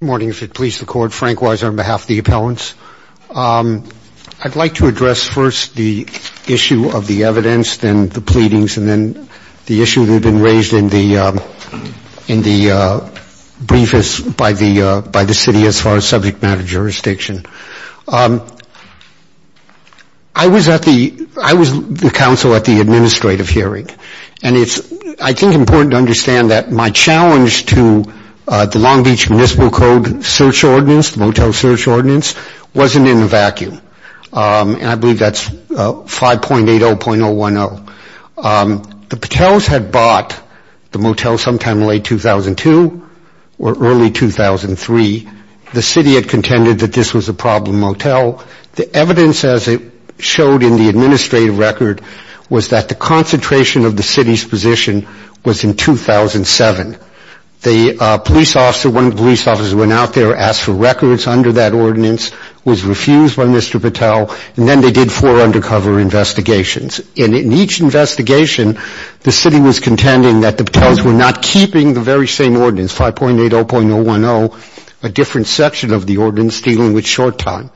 Good morning. If it pleases the court, Frank Weiser on behalf of the appellants. I'd like to address first the issue of the evidence, then the pleadings, and then the issue that had been raised in the briefest by the city as far as subject matter jurisdiction. I was the counsel at the administrative hearing, and it's, I think, important to understand that my challenge to the Long Beach Municipal Code search ordinance, the motel search ordinance, wasn't in a vacuum. And I believe that's 5.80.010. The Patels had bought the motel sometime in late 2002 or early 2003. The city had contended that this was a problem motel. The evidence, as it showed in the administrative record, was that the concentration of the city's position was in 2007. The police officer, one of the police officers, went out there, asked for records under that ordinance, was refused by Mr. Patel, and then they did four undercover investigations. In each investigation, the city was contending that the Patels were not keeping the very same ordinance, 5.80.010, a different section of the ordinance dealing with short time,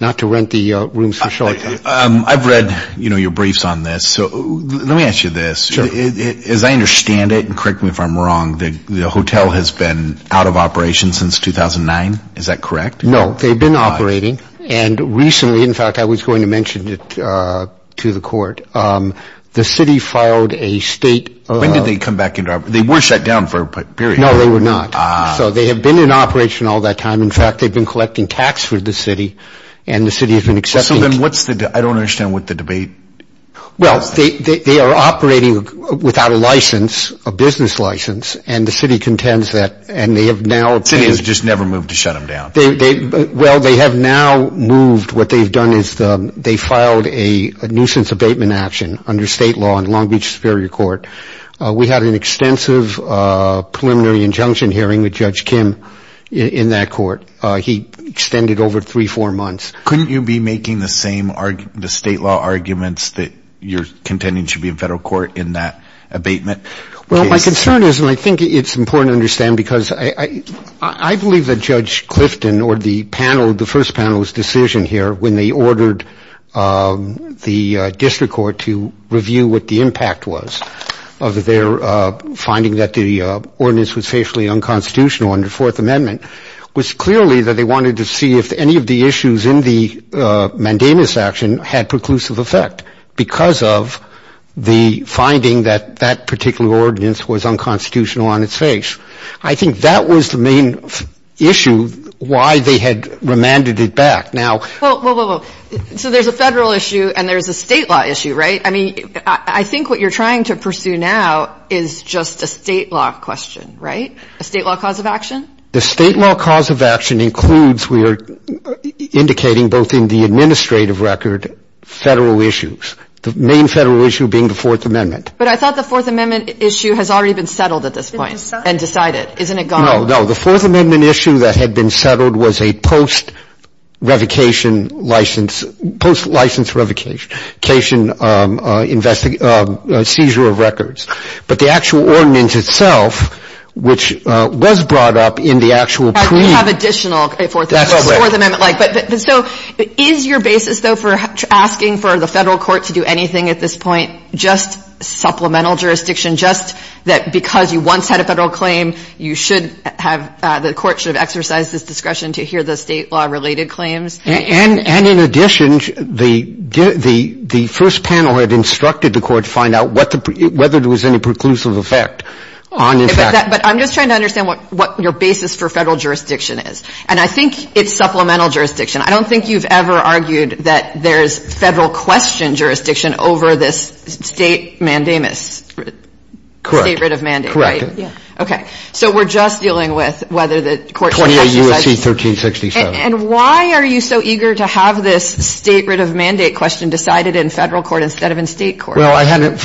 not to rent the rooms for short time. I've read, you know, your briefs on this. So let me ask you this. As I understand it, and correct me if I'm wrong, the hotel has been out of operation since 2009. Is that correct? No. They've been operating. And recently, in fact, I was going to mention it to the court. The city filed a state- When did they come back into operation? They were shut down for a period. No, they were not. So they have been in operation all that time. In fact, they've been collecting tax for the city, and the city has been accepting- So then what's the- I don't understand what the debate- Well, they are operating without a license, a business license, and the city contends that, and they have now- The city has just never moved to shut them down. Well, they have now moved. What they've done is they filed a nuisance abatement action under state law in Long Beach Superior Court. We had an extensive preliminary injunction hearing with Judge Kim in that court. He extended over three, four months. Couldn't you be making the same state law arguments that you're contending should be in federal court in that abatement? Well, my concern is, and I think it's important to understand because I believe that Judge Clifton or the panel, when they ordered the district court to review what the impact was of their finding that the ordinance was facially unconstitutional under Fourth Amendment, was clearly that they wanted to see if any of the issues in the mandamus action had preclusive effect because of the finding that that particular ordinance was unconstitutional on its face. I think that was the main issue why they had remanded it back. Now- Whoa, whoa, whoa. So there's a federal issue and there's a state law issue, right? I mean, I think what you're trying to pursue now is just a state law question, right? A state law cause of action? The state law cause of action includes, we are indicating both in the administrative record, federal issues. The main federal issue being the Fourth Amendment. But I thought the Fourth Amendment issue has already been settled at this point and decided. Isn't it gone? No, no. The Fourth Amendment issue that had been settled was a post-revocation license, post-license revocation seizure of records. But the actual ordinance itself, which was brought up in the actual pre- Right, we have additional Fourth Amendment. That's correct. Fourth Amendment-like. So is your basis, though, for asking for the federal court to do anything at this point just supplemental jurisdiction, just that because you once had a federal claim, you should have the court should have exercised this discretion to hear the state law-related claims? And in addition, the first panel had instructed the court to find out whether there was any preclusive effect on the fact that- But I'm just trying to understand what your basis for federal jurisdiction is. And I think it's supplemental jurisdiction. I don't think you've ever argued that there's federal question jurisdiction over this state mandamus- Correct. State writ of mandate, right? Correct. Yeah. Okay. So we're just dealing with whether the court should exercise- 28 U.S.C. 1367. And why are you so eager to have this state writ of mandate question decided in federal court instead of in state court? Well, I hadn't-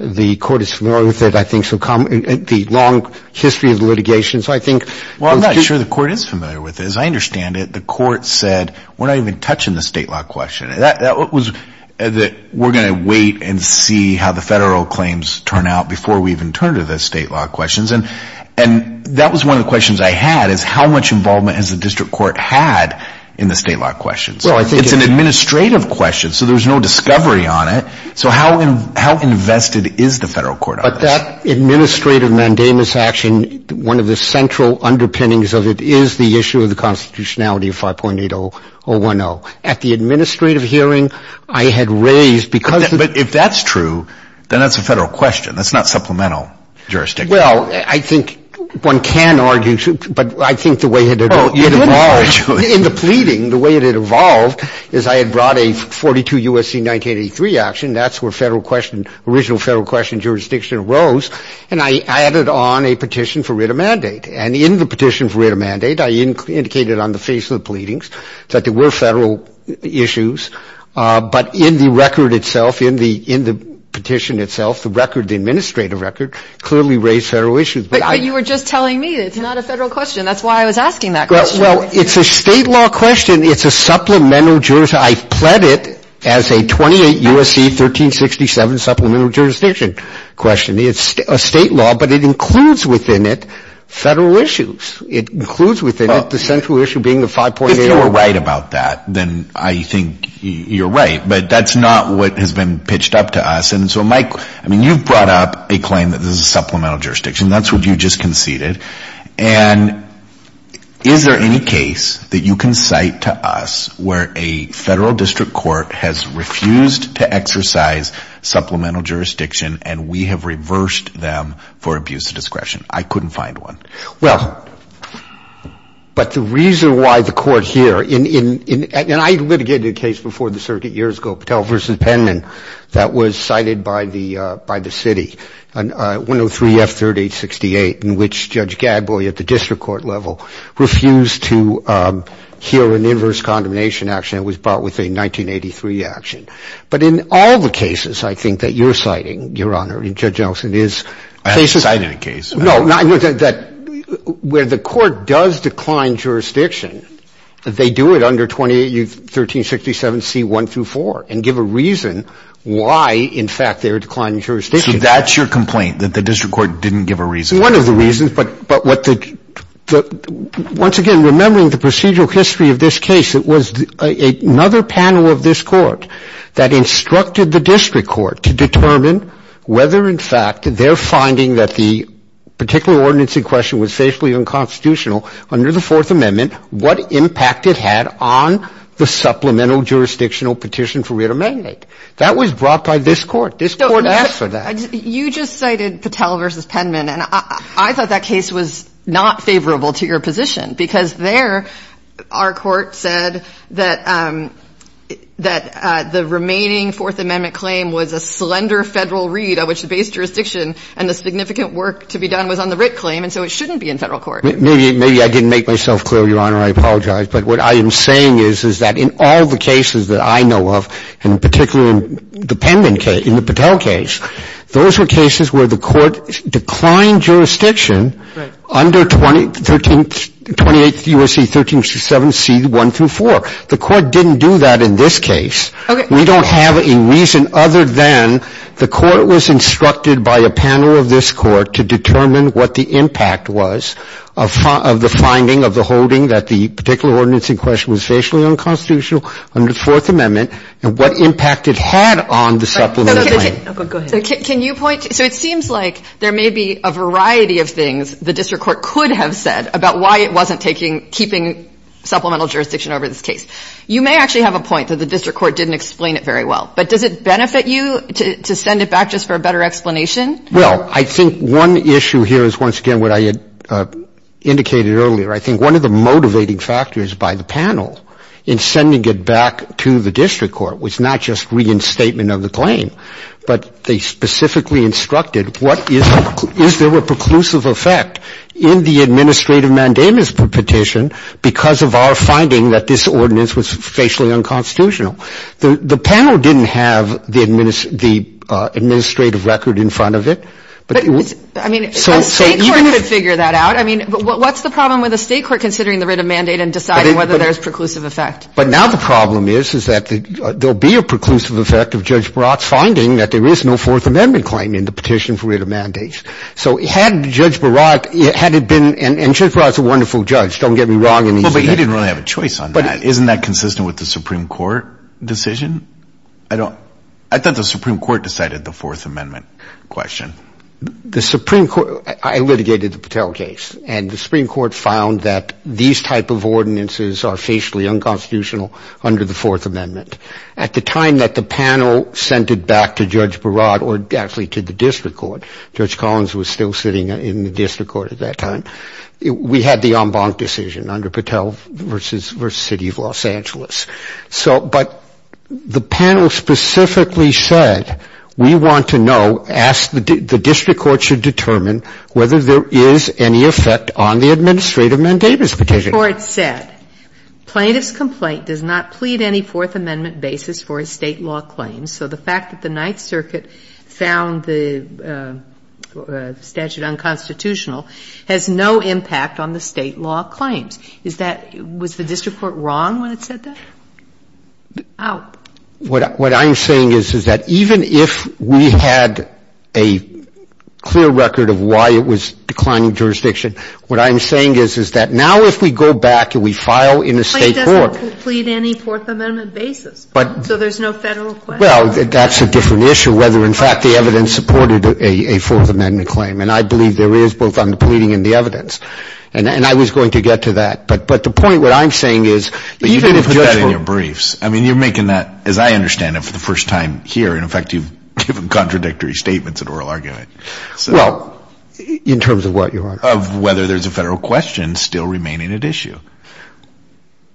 The court is familiar with it, I think, so the long history of the litigation, so I think- Well, I'm not sure the court is familiar with it. As I understand it, the court said we're not even touching the state law question. That was that we're going to wait and see how the federal claims turn out before we even turn to the state law questions. And that was one of the questions I had is how much involvement has the district court had in the state law questions? Well, I think- It's an administrative question, so there's no discovery on it. So how invested is the federal court on this? But that administrative mandamus action, one of the central underpinnings of it is the issue of the constitutionality of 5.8010. At the administrative hearing, I had raised because- But if that's true, then that's a federal question. That's not supplemental jurisdiction. Well, I think one can argue, but I think the way it evolved- Well, you didn't argue it. In the pleading, the way it had evolved is I had brought a 42 U.S.C. 1983 action. That's where federal question, original federal question jurisdiction arose. And I added on a petition for writ of mandate. And in the petition for writ of mandate, I indicated on the face of the pleadings that there were federal issues. But in the record itself, in the petition itself, the record, the administrative record, clearly raised federal issues. But you were just telling me it's not a federal question. That's why I was asking that question. Well, it's a state law question. It's a supplemental jurisdiction. I pled it as a 28 U.S.C. 1367 supplemental jurisdiction question. It's a state law, but it includes within it federal issues. It includes within it the central issue being the 5.8- If you were right about that, then I think you're right. But that's not what has been pitched up to us. And so, Mike, I mean, you've brought up a claim that this is a supplemental jurisdiction. That's what you just conceded. And is there any case that you can cite to us where a federal district court has refused to exercise supplemental jurisdiction and we have reversed them for abuse of discretion? I couldn't find one. Well, but the reason why the court here, and I litigated a case before the circuit years ago, that was cited by the city, 103F3868, in which Judge Gadboy at the district court level refused to hear an inverse condemnation action. It was brought with a 1983 action. But in all the cases, I think, that you're citing, Your Honor, Judge Nelson is- I haven't cited a case. Where the court does decline jurisdiction, they do it under 28-1367C1-4 and give a reason why, in fact, they're declining jurisdiction. So that's your complaint, that the district court didn't give a reason? One of the reasons. But once again, remembering the procedural history of this case, it was another panel of this court that instructed the district court to determine whether, in fact, they're finding that the particular ordinance in question was facially unconstitutional under the Fourth Amendment, what impact it had on the supplemental jurisdictional petition for writ of mandate. That was brought by this court. This court asked for that. You just cited Patel v. Penman, and I thought that case was not favorable to your position because there, our court said that the remaining Fourth Amendment claim was a slender Federal read of which the base jurisdiction and the significant work to be done was on the writ claim, and so it shouldn't be in Federal court. Maybe I didn't make myself clear, Your Honor. I apologize. But what I am saying is, is that in all the cases that I know of, and particularly in the Penman case, in the Patel case, those were cases where the court declined jurisdiction under 28 U.S.C. 1367 C.1-4. The court didn't do that in this case. Okay. We don't have a reason other than the court was instructed by a panel of this court to determine what the impact was of the finding of the holding that the particular had on the supplemental claim. Go ahead. Can you point? So it seems like there may be a variety of things the district court could have said about why it wasn't taking, keeping supplemental jurisdiction over this case. You may actually have a point that the district court didn't explain it very well, but does it benefit you to send it back just for a better explanation? Well, I think one issue here is once again what I had indicated earlier. I think one of the motivating factors by the panel in sending it back to the district court was not just reinstatement of the claim, but they specifically instructed what is there a preclusive effect in the administrative mandamus petition because of our finding that this ordinance was facially unconstitutional. The panel didn't have the administrative record in front of it. But I mean, a state court could figure that out. I mean, what's the problem with a state court considering the writ of mandate and deciding whether there's preclusive effect? But now the problem is is that there will be a preclusive effect of Judge Barat's finding that there is no Fourth Amendment claim in the petition for writ of mandate. So had Judge Barat had it been – and Judge Barat's a wonderful judge. Don't get me wrong. Well, but he didn't really have a choice on that. Isn't that consistent with the Supreme Court decision? I don't – I thought the Supreme Court decided the Fourth Amendment question. The Supreme Court – I litigated the Patel case. And the Supreme Court found that these type of ordinances are facially unconstitutional under the Fourth Amendment. At the time that the panel sent it back to Judge Barat or actually to the district court – Judge Collins was still sitting in the district court at that time – we had the en banc decision under Patel versus City of Los Angeles. So – but the panel specifically said, we want to know, ask – the district court should determine whether there is any effect on the administrative mandate of this petition. Before it's said, plaintiff's complaint does not plead any Fourth Amendment basis for a State law claim. So the fact that the Ninth Circuit found the statute unconstitutional has no impact on the State law claims. Is that – was the district court wrong when it said that? Wow. What I'm saying is, is that even if we had a clear record of why it was declining jurisdiction, what I'm saying is, is that now if we go back and we file in a State court – Plaintiff doesn't plead any Fourth Amendment basis. But – So there's no Federal question. Well, that's a different issue, whether in fact the evidence supported a Fourth Amendment claim. And I believe there is, both on the pleading and the evidence. And I was going to get to that. But the point, what I'm saying is – But you didn't put that in your briefs. I mean, you're making that, as I understand it, for the first time here. In fact, you've given contradictory statements in oral argument. Well, in terms of what, your argument? Of whether there's a Federal question still remaining at issue.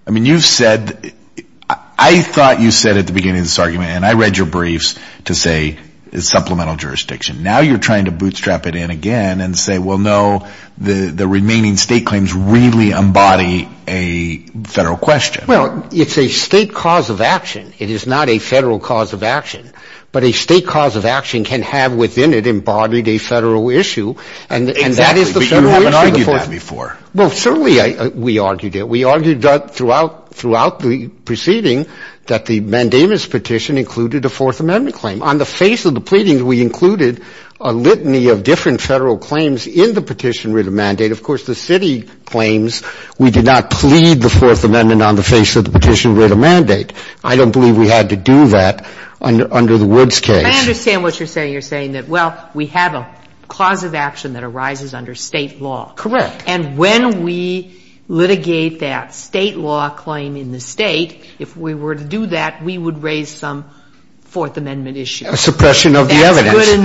I mean, you've said – I thought you said at the beginning of this argument, and I read your briefs, to say it's supplemental jurisdiction. Now you're trying to bootstrap it in again and say, well, no, the remaining state claims really embody a Federal question. Well, it's a state cause of action. It is not a Federal cause of action. But a state cause of action can have within it embodied a Federal issue. Exactly. But you haven't argued that before. Well, certainly we argued it. We argued throughout the proceeding that the mandamus petition included a Fourth Amendment claim. On the face of the pleadings, we included a litany of different Federal claims in the petition written mandate. Of course, the city claims we did not plead the Fourth Amendment on the face of the petition written mandate. I don't believe we had to do that under the Woods case. I understand what you're saying. You're saying that, well, we have a cause of action that arises under State law. Correct. And when we litigate that State law claim in the State, if we were to do that, we would raise some Fourth Amendment issue. A suppression of the evidence. Is that good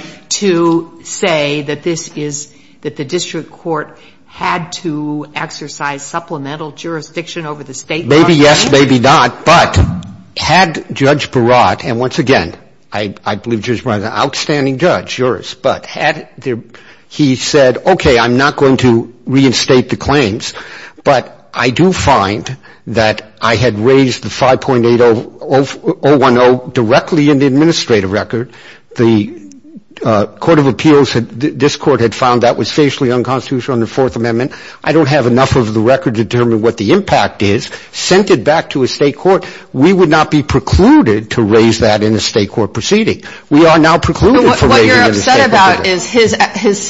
enough to say that this is, that the district court had to exercise supplemental jurisdiction over the State law claim? Maybe yes, maybe not. But had Judge Barat, and once again, I believe Judge Barat is an outstanding judge, yours. But had he said, okay, I'm not going to reinstate the claims, but I do find that I had raised the 5.8010 directly in the administrative record. The Court of Appeals, this Court had found that was facially unconstitutional under the Fourth Amendment. I don't have enough of the record to determine what the impact is. Sent it back to a State court. We would not be precluded to raise that in a State court proceeding. We are now precluded from raising it in a State court proceeding. What you're upset about is his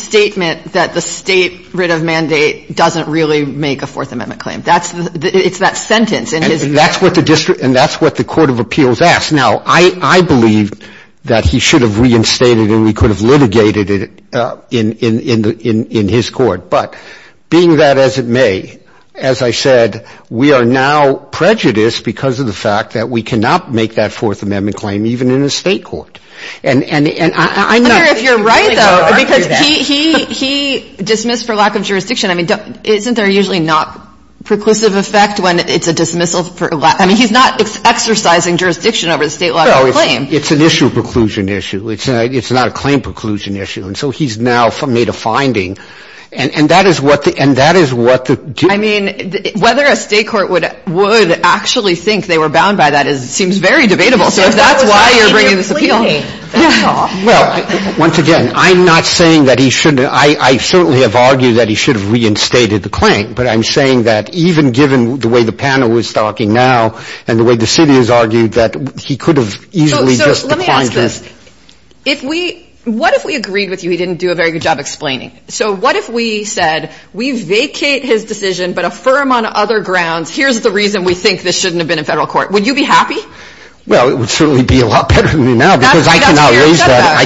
statement that the State writ of mandate doesn't really make a Fourth Amendment claim. It's that sentence. And that's what the District, and that's what the Court of Appeals asked. Now, I believe that he should have reinstated it and we could have litigated it in his court. But being that as it may, as I said, we are now prejudiced because of the fact that we cannot make that Fourth Amendment claim even in a State court. And I know. I wonder if you're right, though, because he dismissed for lack of jurisdiction. I mean, isn't there usually not preclusive effect when it's a dismissal? I mean, he's not exercising jurisdiction over the State lawful claim. No. It's an issue of preclusion issue. It's not a claim preclusion issue. And so he's now made a finding. And that is what the do. I mean, whether a State court would actually think they were bound by that seems very debatable. So if that's why you're bringing this appeal. Well, once again, I'm not saying that he shouldn't. I mean, I certainly have argued that he should have reinstated the claim. But I'm saying that even given the way the panel is talking now and the way the city has argued that he could have easily just declined it. So let me ask this. What if we agreed with you he didn't do a very good job explaining? So what if we said we vacate his decision but affirm on other grounds here's the reason we think this shouldn't have been in Federal court? Would you be happy? Well, it would certainly be a lot better than now because I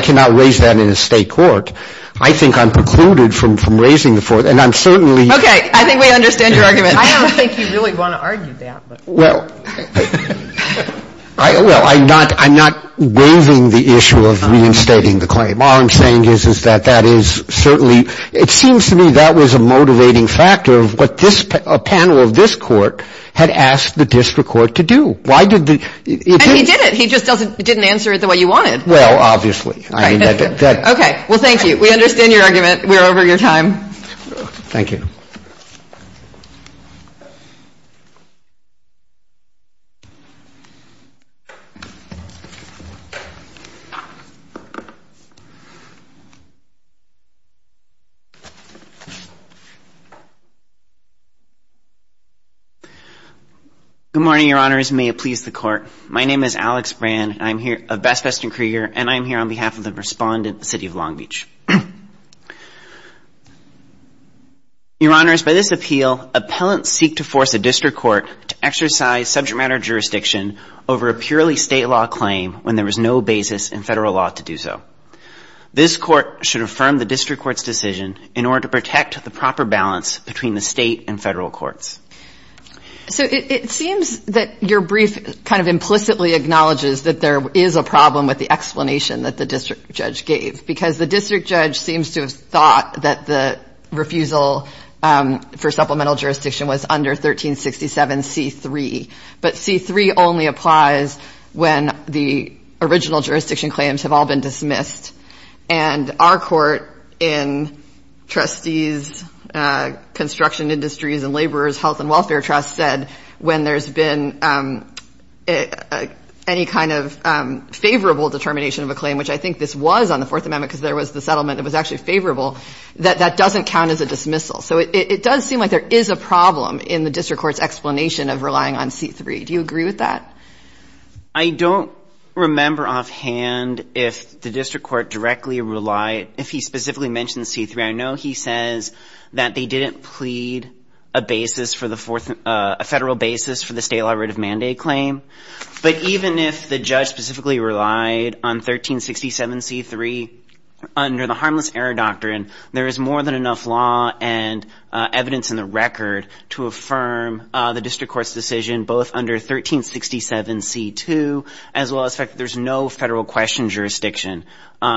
cannot raise that in a State court. I think I'm precluded from raising it. And I'm certainly. Okay. I think we understand your argument. I don't think you really want to argue that. Well, I'm not waiving the issue of reinstating the claim. All I'm saying is that that is certainly. It seems to me that was a motivating factor of what a panel of this court had asked the district court to do. And he did it. He just didn't answer it the way you wanted. Well, obviously. Okay. Well, thank you. We understand your argument. We're over your time. Thank you. Good morning, Your Honors. May it please the Court. My name is Alex Brand. And I'm here on behalf of the respondent, the City of Long Beach. Your Honors, by this appeal, appellants seek to force a district court to exercise subject matter jurisdiction over a purely State law claim when there was no basis in Federal law to do so. This court should affirm the district court's decision in order to protect the proper balance between the State and Federal courts. So it seems that your brief kind of implicitly acknowledges that there is a problem with the explanation that the district judge gave. Because the district judge seems to have thought that the refusal for supplemental jurisdiction was under 1367C3. But C3 only applies when the original jurisdiction claims have all been dismissed. And our court in trustees, construction industries and laborers, health and welfare trust said when there's been any kind of favorable determination of a claim, which I think this was on the Fourth Amendment because there was the settlement that was actually favorable, that that doesn't count as a dismissal. So it does seem like there is a problem in the district court's explanation of relying on C3. Do you agree with that? I don't remember offhand if the district court directly relied, if he specifically mentioned C3. I know he says that they didn't plead a basis for the fourth, a federal basis for the state law writ of mandate claim. But even if the judge specifically relied on 1367C3 under the harmless error doctrine, there is more than enough law and evidence in the record to affirm the district court's decision both under 1367C2 as well as the fact that there's no federal question jurisdiction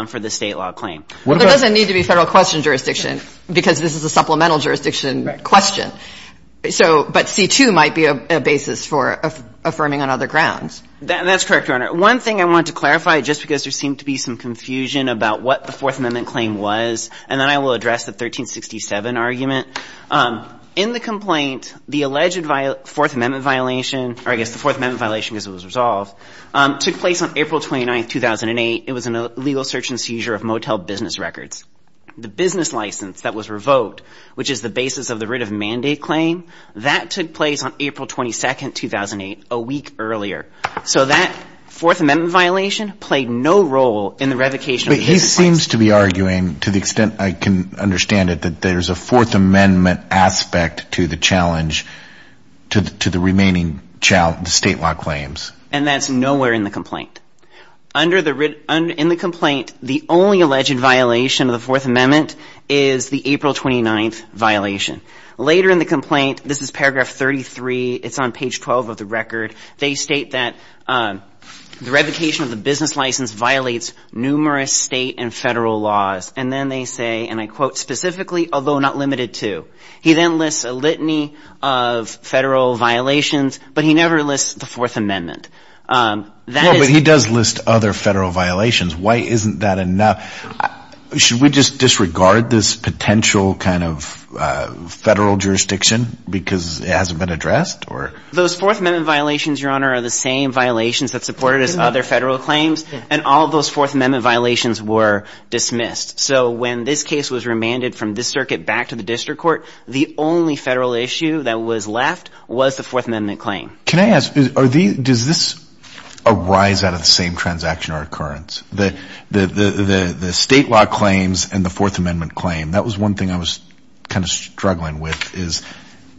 for the state law claim. Well, there doesn't need to be federal question jurisdiction because this is a supplemental jurisdiction question. So, but C2 might be a basis for affirming on other grounds. That's correct, Your Honor. One thing I want to clarify, just because there seemed to be some confusion about what the Fourth Amendment claim was, and then I will address the 1367 argument. In the complaint, the alleged Fourth Amendment violation, or I guess the Fourth Amendment violation because it was resolved, took place on April 29, 2008. It was an illegal search and seizure of motel business records. The business license that was revoked, which is the basis of the writ of mandate claim, that took place on April 22, 2008, a week earlier. So that Fourth Amendment violation played no role in the revocation of the basis claim. But he seems to be arguing, to the extent I can understand it, that there's a Fourth Amendment aspect to the challenge, to the remaining state law claims. And that's nowhere in the complaint. In the complaint, the only alleged violation of the Fourth Amendment is the April 29th violation. Later in the complaint, this is paragraph 33. It's on page 12 of the record. They state that the revocation of the business license violates numerous state and Federal laws. And then they say, and I quote specifically, although not limited to, he then lists a litany of Federal violations, but he never lists the Fourth Amendment. But he does list other Federal violations. Why isn't that enough? Should we just disregard this potential kind of Federal jurisdiction because it hasn't been addressed? Those Fourth Amendment violations, Your Honor, are the same violations that supported his other Federal claims. And all of those Fourth Amendment violations were dismissed. So when this case was remanded from this circuit back to the district court, the only Federal issue that was left was the Fourth Amendment claim. Can I ask, does this arise out of the same transaction or occurrence? The state law claims and the Fourth Amendment claim, that was one thing I was kind of struggling with, is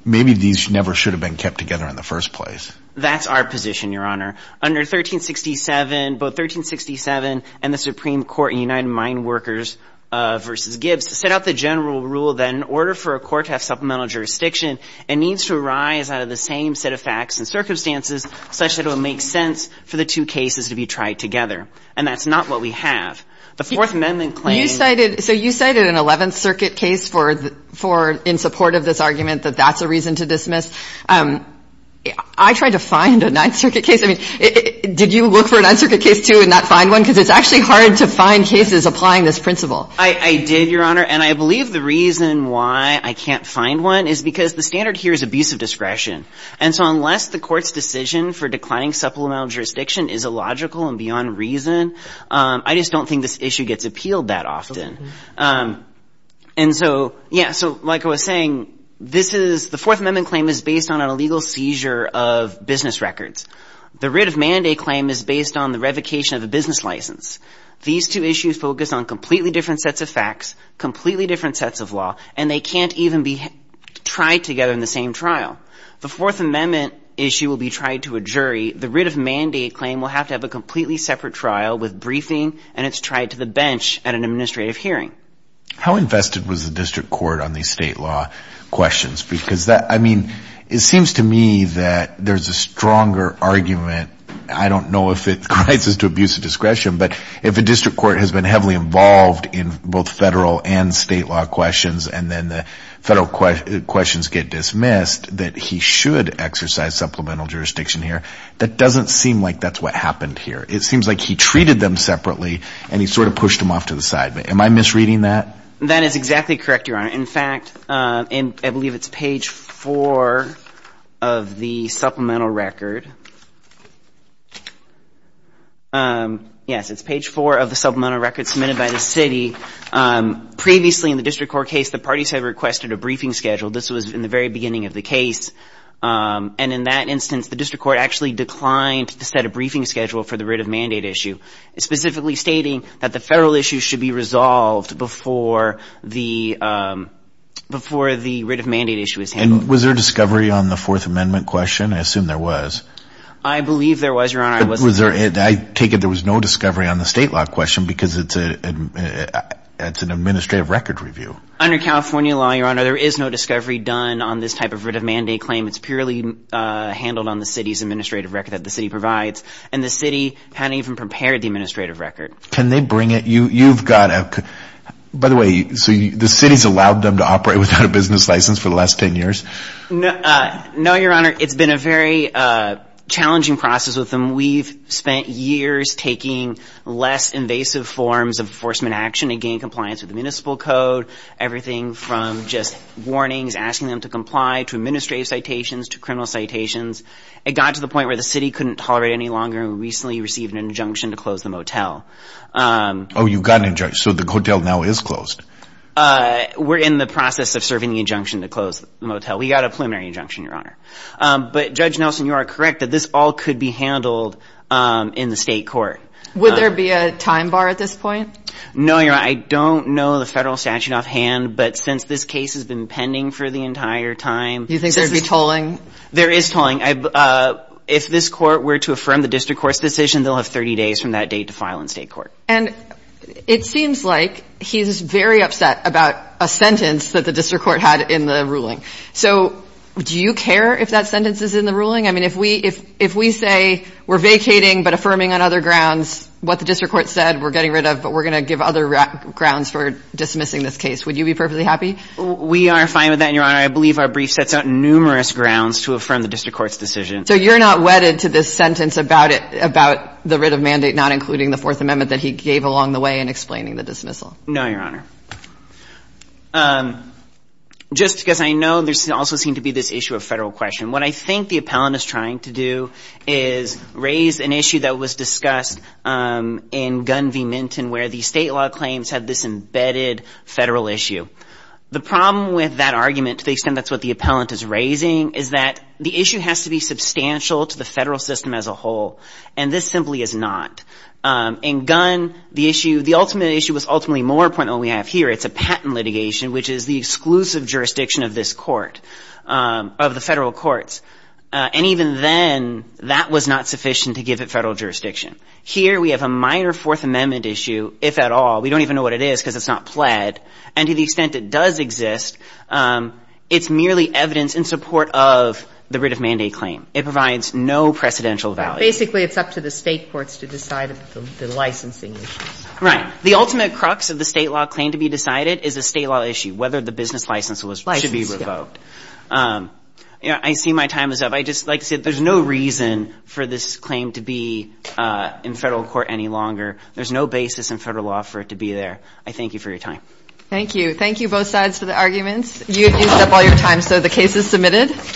maybe these never should have been kept together in the first place. That's our position, Your Honor. Under 1367, both 1367 and the Supreme Court in United Mine Workers v. Gibbs set out the general rule that in order for a court to have supplemental jurisdiction, it needs to arise out of the same set of facts and circumstances such that it would make sense for the two cases to be tried together. And that's not what we have. The Fourth Amendment claim — You cited — so you cited an Eleventh Circuit case for — in support of this argument that that's a reason to dismiss. I tried to find a Ninth Circuit case. I mean, did you look for a Ninth Circuit case, too, and not find one? Because it's actually hard to find cases applying this principle. I did, Your Honor. And I believe the reason why I can't find one is because the standard here is abusive discretion. And so unless the court's decision for declining supplemental jurisdiction is illogical and beyond reason, I just don't think this issue gets appealed that often. And so, yeah, so like I was saying, this is — the Fourth Amendment claim is based on a legal seizure of business records. The writ of mandate claim is based on the revocation of a business license. These two issues focus on completely different sets of facts, completely different sets of law, and they can't even be tried together in the same trial. The Fourth Amendment issue will be tried to a jury. The writ of mandate claim will have to have a completely separate trial with briefing, and it's tried to the bench at an administrative hearing. How invested was the district court on these state law questions? Because that — I mean, it seems to me that there's a stronger argument — I don't know if it crites to abusive discretion, but if a district court has been heavily involved in both federal and state law questions, and then the federal questions get dismissed, that he should exercise supplemental jurisdiction here. That doesn't seem like that's what happened here. It seems like he treated them separately, and he sort of pushed them off to the side. Am I misreading that? That is exactly correct, Your Honor. In fact, I believe it's page 4 of the supplemental record. Yes, it's page 4 of the supplemental record submitted by the city. Previously in the district court case, the parties had requested a briefing schedule. This was in the very beginning of the case. And in that instance, the district court actually declined to set a briefing schedule for the writ of mandate issue, specifically stating that the federal issue should be resolved before the writ of mandate issue is handled. And was there discovery on the Fourth Amendment question? I assume there was. I believe there was, Your Honor. I take it there was no discovery on the state law question, because it's an administrative record review. Under California law, Your Honor, there is no discovery done on this type of writ of mandate claim. It's purely handled on the city's administrative record that the city provides. And the city hadn't even prepared the administrative record. Can they bring it? You've got a... By the way, so the city's allowed them to operate without a business license for the last 10 years? No, Your Honor. It's been a very challenging process with them. We've spent years taking less invasive forms of enforcement action to gain compliance with the municipal code, everything from just warnings, asking them to comply, to administrative citations, to criminal citations. It got to the point where the city couldn't tolerate it any longer, and we recently received an injunction to close the motel. Oh, you got an injunction. So the motel now is closed. We're in the process of serving the injunction to close the motel. We got a preliminary injunction, Your Honor. But, Judge Nelson, you are correct that this all could be handled in the state court. Would there be a time bar at this point? No, Your Honor. I don't know the federal statute offhand, but since this case has been pending for the entire time... Do you think there'd be tolling? There is tolling. If this court were to affirm the district court's decision, they'll have 30 days from that date to file in state court. And it seems like he's very upset about a sentence that the district court had in the ruling. So do you care if that sentence is in the ruling? I mean, if we say we're vacating but affirming on other grounds what the district court said, we're getting rid of, but we're going to give other grounds for dismissing this case, would you be perfectly happy? We are fine with that, Your Honor. I believe our brief sets out numerous grounds to affirm the district court's decision. So you're not wedded to this sentence about the writ of mandate not including the Fourth Amendment that he gave along the way in explaining the dismissal? No, Your Honor. Just because I know there also seemed to be this issue of federal question. What I think the appellant is trying to do is raise an issue that was discussed in Gun v. Minton where the state law claims had this embedded federal issue. The problem with that argument, to the extent that's what the appellant is raising, is that the issue has to be substantial to the federal system as a whole, and this simply is not. In Gun, the issue, the ultimate issue was ultimately more important than what we have here. It's a patent litigation, which is the exclusive jurisdiction of this court, of the federal courts. And even then, that was not sufficient to give it federal jurisdiction. Here we have a minor Fourth Amendment issue, if at all. We don't even know what it is because it's not pled. And to the extent it does exist, it's merely evidence in support of the writ of mandate claim. It provides no precedential value. Basically, it's up to the state courts to decide the licensing issues. Right. The ultimate crux of the state law claim to be decided is a state law issue, whether the business license should be revoked. I see my time is up. I just like to say there's no reason for this claim to be in federal court any longer. There's no basis in federal law for it to be there. I thank you for your time. Thank you. Thank you, both sides, for the arguments. You've used up all your time, so the case is submitted.